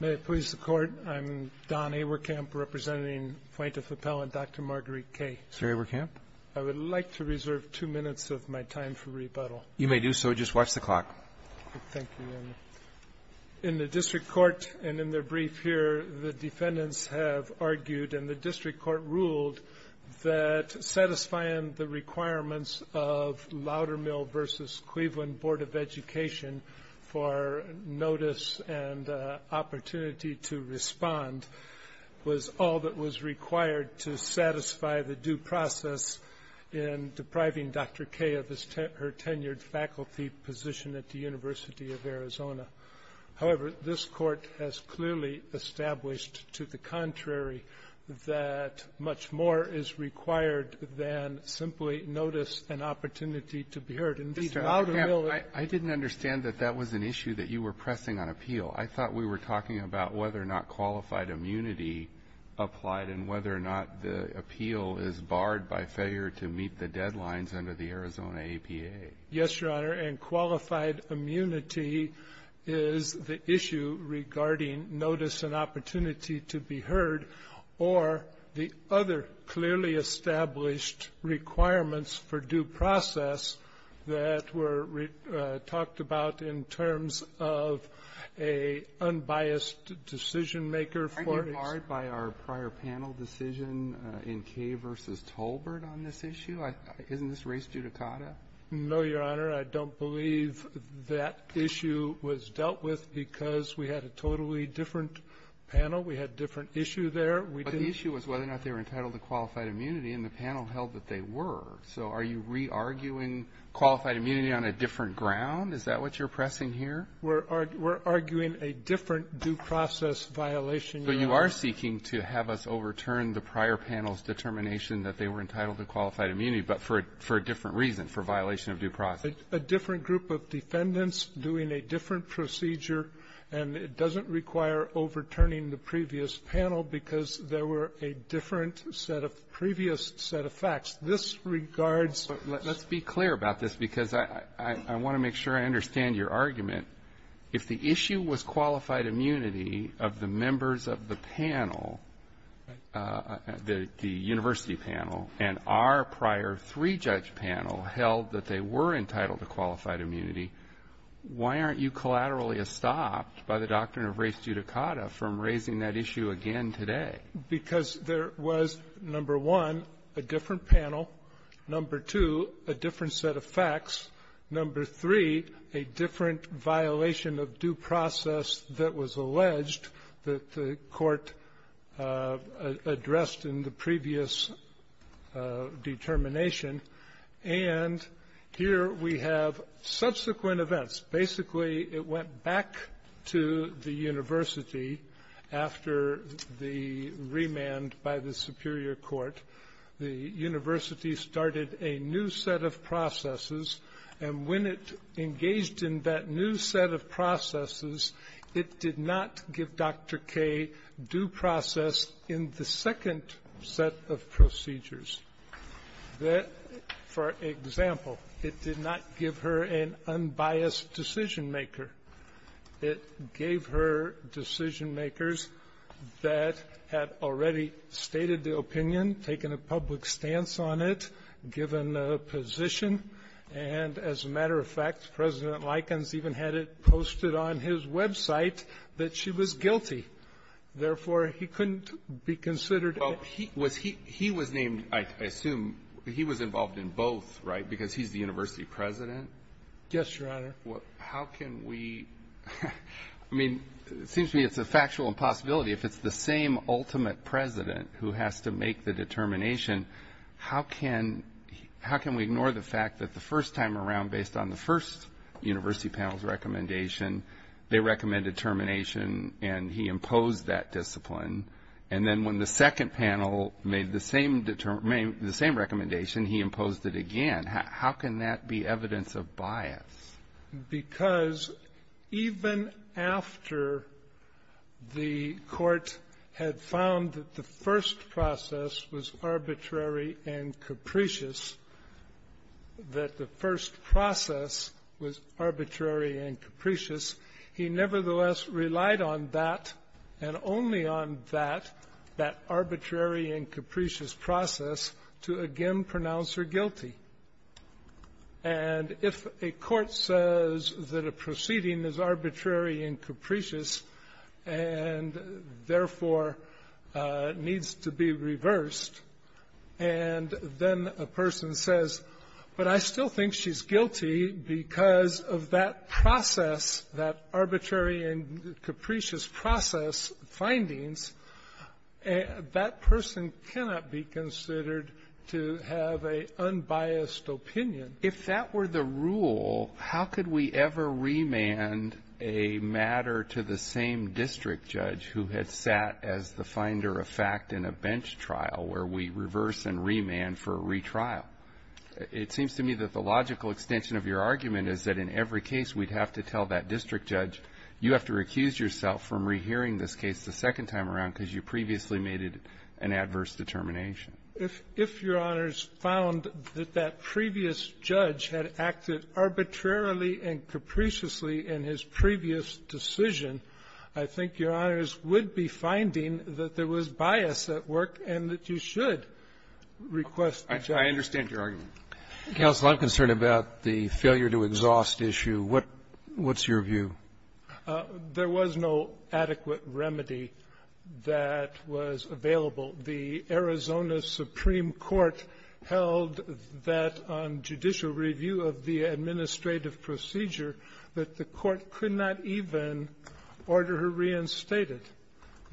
May it please the Court, I'm Don Awerkamp representing Plaintiff Appellant Dr. Marguerite Kaye. Mr. Awerkamp? I would like to reserve two minutes of my time for rebuttal. You may do so. Just watch the clock. Thank you. In the District Court, and in their brief here, the defendants have argued, and the District Court ruled, that satisfying the requirements of Loudermill v. Cleveland Board of Education for notice and opportunity to respond was all that was required to satisfy the due process in depriving Dr. Kaye of her tenured faculty position at the University of Arizona. However, this Court has clearly established, to the contrary, that much more is required than simply notice and opportunity to be heard. Indeed, Loudermill ---- Mr. Awerkamp, I didn't understand that that was an issue that you were pressing on appeal. I thought we were talking about whether or not qualified immunity applied and whether or not the appeal is barred by failure to meet the deadlines under the Arizona APA. Yes, Your Honor, and qualified immunity is the issue regarding notice and opportunity to be heard or the other clearly established requirements for due process that were talked about in terms of a unbiased decision-maker for ---- Aren't you barred by our prior panel decision in Kaye v. Tolbert on this issue? Isn't this race judicata? No, Your Honor. I don't believe that issue was dealt with because we had a totally different panel. We had a different issue there. But the issue was whether or not they were entitled to qualified immunity, and the panel held that they were. So are you re-arguing qualified immunity on a different ground? Is that what you're pressing here? We're arguing a different due process violation, Your Honor. But you are seeking to have us overturn the prior panel's determination that they were entitled to qualified immunity, but for a different reason, for violation of due process. A different group of defendants doing a different procedure, and it doesn't require overturning the previous panel because there were a different set of previous set of facts. This regards ---- Let's be clear about this because I want to make sure I understand your argument. If the issue was qualified immunity of the members of the panel, the university panel, and our prior three-judge panel held that they were entitled to qualified immunity, why aren't you collaterally stopped by the doctrine of race judicata from raising that issue again today? Because there was, number one, a different panel, number two, a different set of facts, number three, a different violation of due process that was alleged that the court addressed in the previous determination. And here we have subsequent events. Basically, it went back to the university after the remand by the superior court. The university started a new set of processes, and when it engaged in that new set of processes, it did not give Dr. Kaye due process in the second set of procedures. For example, it did not give her an unbiased decision-maker. It gave her decision-makers that had already stated the opinion, taken a public stance on it, given a position. And as a matter of fact, President Likens even had it posted on his website that she was guilty. Therefore, he couldn't be considered a ---- Well, he was named, I assume, he was involved in both, right, because he's the university president? Yes, Your Honor. Well, how can we ---- I mean, it seems to me it's a factual impossibility. If it's the same ultimate president who has to make the determination, how can we ignore the fact that the first time around, based on the first university panel's recommendation, they recommended termination, and he imposed that discipline. And then when the second panel made the same recommendation, he imposed it again. How can that be evidence of bias? Because even after the Court had found that the first process was arbitrary and capricious, that the first process was arbitrary and capricious, he nevertheless relied on that and only on that, that arbitrary and capricious process, to again pronounce her guilty. And if a court says that a proceeding is arbitrary and capricious and therefore needs to be reversed, and then a person says, but I still think she's guilty because of that process, that arbitrary and capricious process findings, that person cannot be considered to have an unbiased opinion. If that were the rule, how could we ever remand a matter to the same district judge who had sat as the finder of fact in a bench trial where we reverse and remand for a retrial? It seems to me that the logical extension of your argument is that in every case we'd have to tell that district judge, you have to recuse yourself from rehearing this case the second time around because you previously made an adverse determination. If Your Honors found that that previous judge had acted arbitrarily and capriciously in his previous decision, I think Your Honors would be finding that there was bias at work and that you should request the judge. I understand your argument. Counsel, I'm concerned about the failure-to-exhaust issue. What's your view? There was no adequate remedy that was available. The Arizona Supreme Court held that on judicial review of the administrative procedure that the court could not even order her reinstated.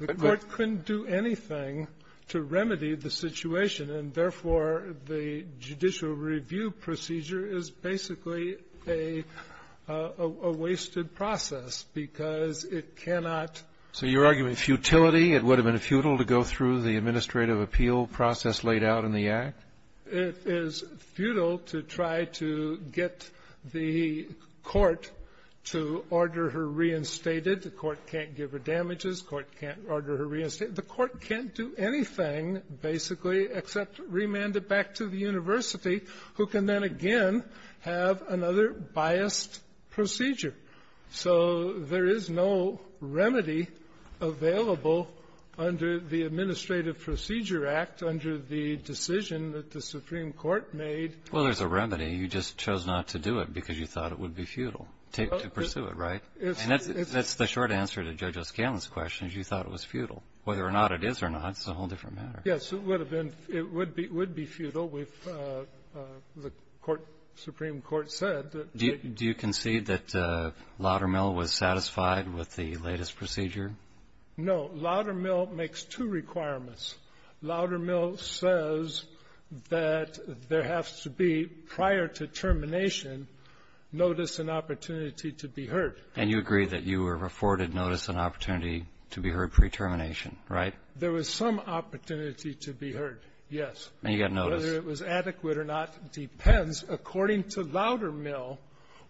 The court couldn't do anything to remedy the situation, and therefore, the judicial review procedure is basically a wasted process because it cannot ---- So your argument is futility? It would have been futile to go through the administrative appeal process laid out in the Act? It is futile to try to get the court to order her reinstated. The court can't give her damages. The court can't order her reinstated. The court can't do anything, basically, except remand it back to the university, who can then again have another biased procedure. So there is no remedy available under the Administrative Procedure Act under the decision that the Supreme Court made. Well, there's a remedy. You just chose not to do it because you thought it would be futile to pursue it, right? And that's the short answer to Judge O'Scanlon's question, is you thought it was futile. Whether or not it is or not is a whole different matter. Yes. It would have been ---- it would be ---- would be futile if the court, Supreme Court, said that ---- Do you concede that Loudermill was satisfied with the latest procedure? No. Loudermill makes two requirements. Loudermill says that there has to be, prior to termination, notice and opportunity to be heard. And you agree that you were afforded notice and opportunity to be heard pre-termination, right? There was some opportunity to be heard, yes. And you got notice. Whether it was adequate or not depends. According to Loudermill,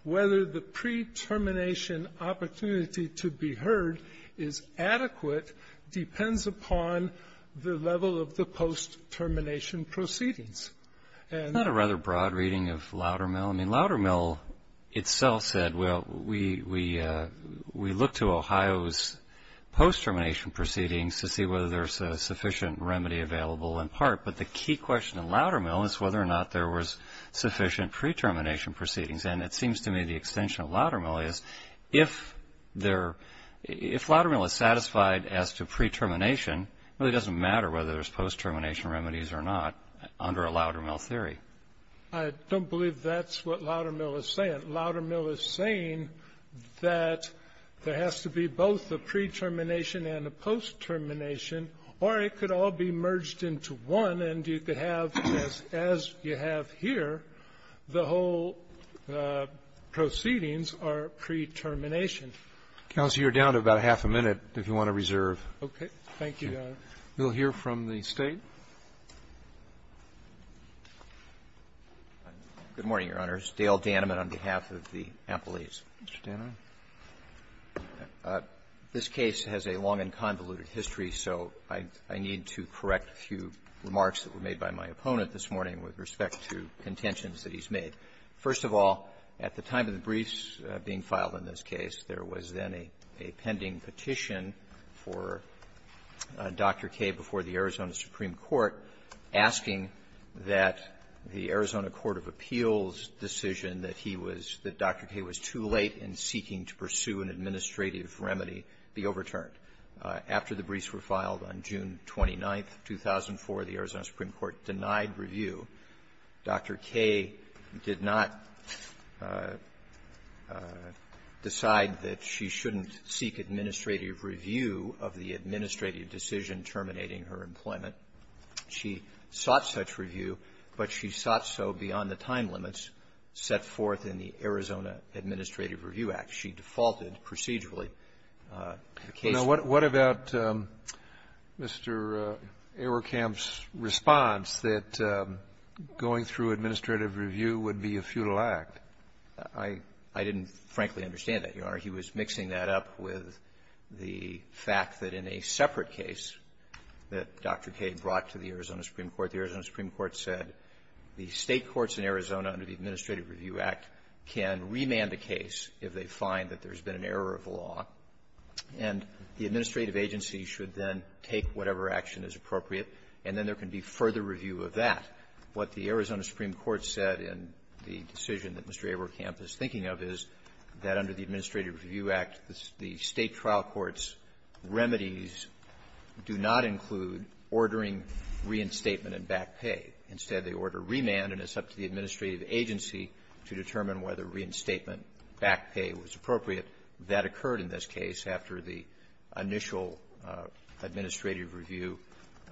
whether the pre-termination opportunity to be heard is adequate depends upon the level of the post-termination proceedings. And ---- Isn't that a rather broad reading of Loudermill? Well, I mean, Loudermill itself said, well, we look to Ohio's post-termination proceedings to see whether there's a sufficient remedy available in part. But the key question in Loudermill is whether or not there was sufficient pre-termination proceedings. And it seems to me the extension of Loudermill is, if there ---- if Loudermill is satisfied as to pre-termination, it really doesn't matter whether there's post-termination remedies or not under a Loudermill theory. I don't believe that's what Loudermill is saying. Loudermill is saying that there has to be both a pre-termination and a post-termination, or it could all be merged into one, and you could have, as you have here, the whole proceedings are pre-termination. Counsel, you're down to about half a minute, if you want to reserve. Okay. Thank you, Your Honor. We'll hear from the State. Good morning, Your Honors. Dale Danneman on behalf of the appellees. Mr. Danneman. This case has a long and convoluted history, so I need to correct a few remarks that were made by my opponent this morning with respect to contentions that he's made. First of all, at the time of the briefs being filed in this case, there was then a pending petition for Dr. Kaye before the Arizona Supreme Court asking that the Arizona Court of Appeals' decision that he was, that Dr. Kaye was too late in seeking to pursue an administrative remedy be overturned. After the briefs were filed on June 29th, 2004, the Arizona Supreme Court denied review. Dr. Kaye did not decide that she shouldn't seek administrative review of the administrative decision terminating her employment. She sought such review, but she sought so beyond the time limits set forth in the Arizona Administrative Review Act. She defaulted procedurally. The case was not an administrative review. The case was not an administrative review. Kennedy, what about Mr. Auerkamp's response that going through administrative review would be a futile act? I didn't, frankly, understand that, Your Honor. He was mixing that up with the fact that in a separate case that Dr. Kaye brought to the Arizona Supreme Court, the Arizona Supreme Court said the State courts in Arizona under the Administrative Review Act can remand a case if they find that there's been an error of law, and the administrative agency should then take whatever action is appropriate, and then there can be further review of that. What the Arizona Supreme Court said in the decision that Mr. Auerkamp is thinking of is that under the Administrative Review Act, the State trial court's remedies do not include ordering reinstatement and back pay. Instead, they order remand, and it's up to the administrative agency to determine whether reinstatement, back pay was appropriate. That occurred in this case after the initial administrative review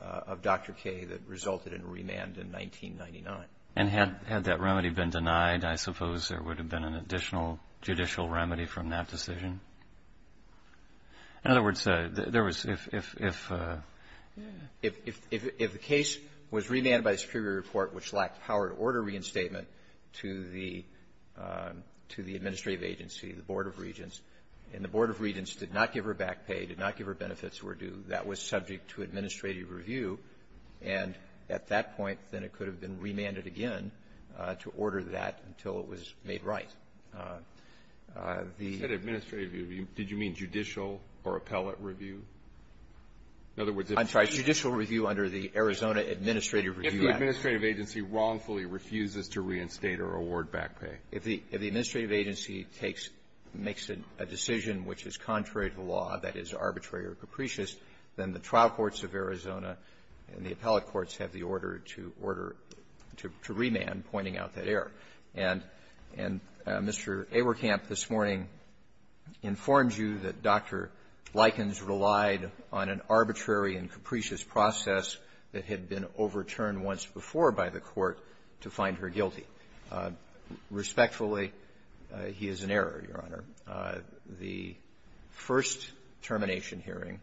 of Dr. Kaye that resulted in remand in 1999. And had that remedy been denied, I suppose there would have been an additional judicial remedy from that decision? In other words, there was — if the State trial court — if the case was remanded by the Superior Report, which lacked power to order reinstatement, to the administrative agency, the Board of Regents, and the Board of Regents did not give her back pay, did not give her benefits were due, that was subject to administrative review, and at that point, then it could have been remanded again to order that until it was made right. The — Alitoso, did you mean judicial or appellate review? In other words, if — If the administrative agency wrongfully refuses to reinstate or award back pay. If the — if the administrative agency takes — makes a decision which is contrary to law, that is, arbitrary or capricious, then the trial courts of Arizona and the appellate courts have the order to order — to remand pointing out that error. And — and Mr. Awerkamp this morning informed you that Dr. Likens relied on an arbitrary and capricious process that had been overturned once before by the Court to find her guilty. Respectfully, he is in error, Your Honor. The first termination hearing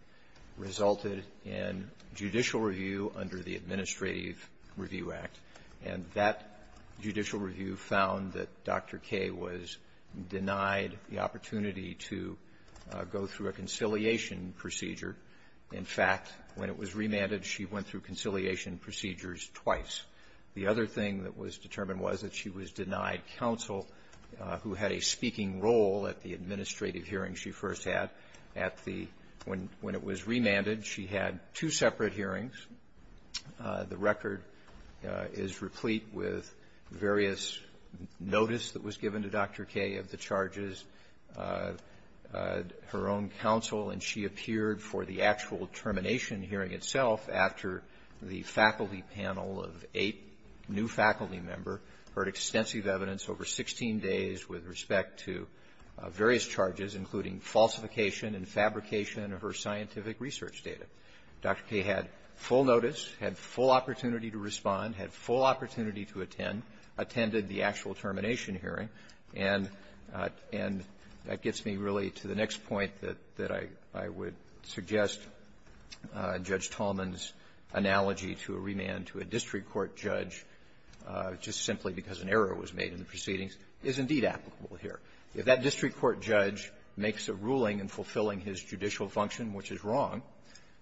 resulted in judicial review under the Administrative Review Act, and that judicial review found that Dr. K was denied the opportunity to go through a conciliation procedure. In fact, when it was remanded, she went through conciliation procedures twice. The other thing that was determined was that she was denied counsel who had a speaking role at the administrative hearing she first had at the — when it was remanded, she had two separate hearings. The record is replete with various notice that was given to Dr. K of the charges. Her own counsel, and she, of course, did not have to appear for the actual termination hearing itself after the faculty panel of eight new faculty members heard extensive evidence over 16 days with respect to various charges, including falsification and fabrication of her scientific research data. Dr. K had full notice, had full opportunity to respond, had full opportunity to attend, attended the actual termination hearing, and — and that gets me really to the next point that — that I — I would suggest Judge Talman's analogy to a remand to a district court judge just simply because an error was made in the proceedings is indeed applicable here. If that district court judge makes a ruling in fulfilling his judicial function, which is wrong,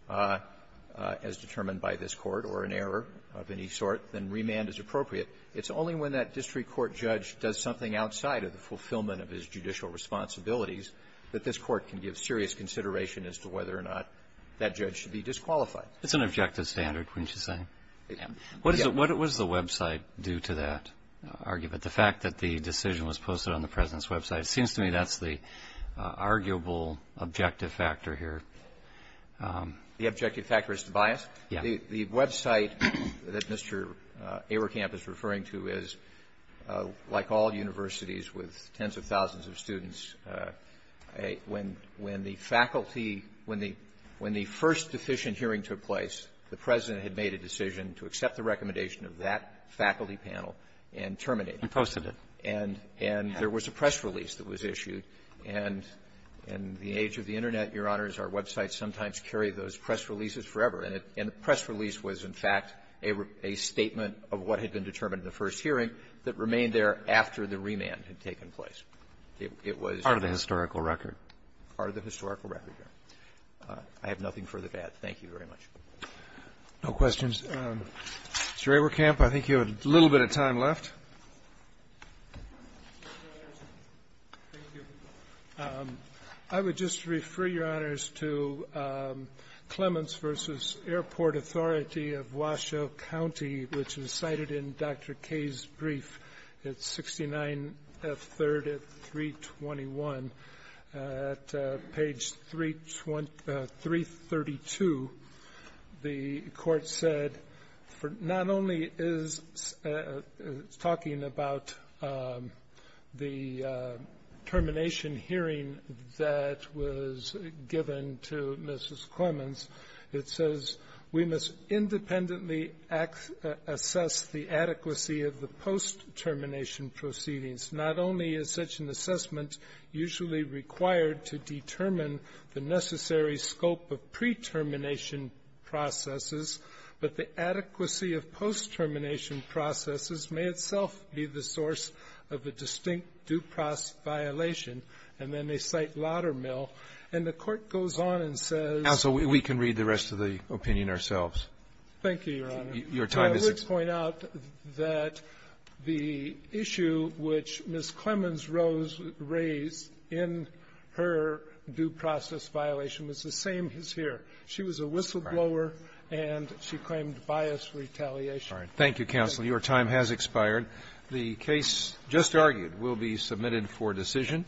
as determined by this Court, or an error of any sort, then remand is appropriate. It's only when that district court judge does something outside of the fulfillment of his judicial responsibilities that this Court can give serious consideration as to whether or not that judge should be disqualified. It's an objective standard, wouldn't you say? Yeah. What is it — what is the website due to that argument? The fact that the decision was posted on the President's website, it seems to me that's the arguable objective factor here. The objective factor is the bias? Yeah. The — the website that Mr. Ayerkamp is referring to is, like all universities, with tens of thousands of students, a — when — when the faculty — when the — when the first deficient hearing took place, the President had made a decision to accept the recommendation of that faculty panel and terminate it. He posted it. And — and there was a press release that was issued. And in the age of the Internet, Your Honors, our websites sometimes carry those press releases forever. And the press release was, in fact, a statement of what had been determined in the first hearing that remained there after the remand had taken place. It was — Part of the historical record. Part of the historical record. I have nothing further to add. Thank you very much. No questions. Mr. Ayerkamp, I think you have a little bit of time left. Thank you. I would just refer, Your Honors, to Clements v. Airport Authority of Washoe County, which is cited in Dr. Kaye's brief. It's 69F3 at 321. At page 32 — 332, the talking about the termination hearing that was given to Mrs. Clements, it says we must independently assess the adequacy of the post-termination proceedings. Not only is such an assessment usually required to determine the necessary scope of pre-termination processes, but the be the source of a distinct due process violation. And then they cite Laudermill. And the Court goes on and says — Counsel, we can read the rest of the opinion ourselves. Thank you, Your Honor. Your time is — I would point out that the issue which Ms. Clements rose — raised in her due process violation was the same as here. She was a whistleblower, and she claimed bias retaliation. Thank you, counsel. Your time has expired. The case just argued will be submitted for decision.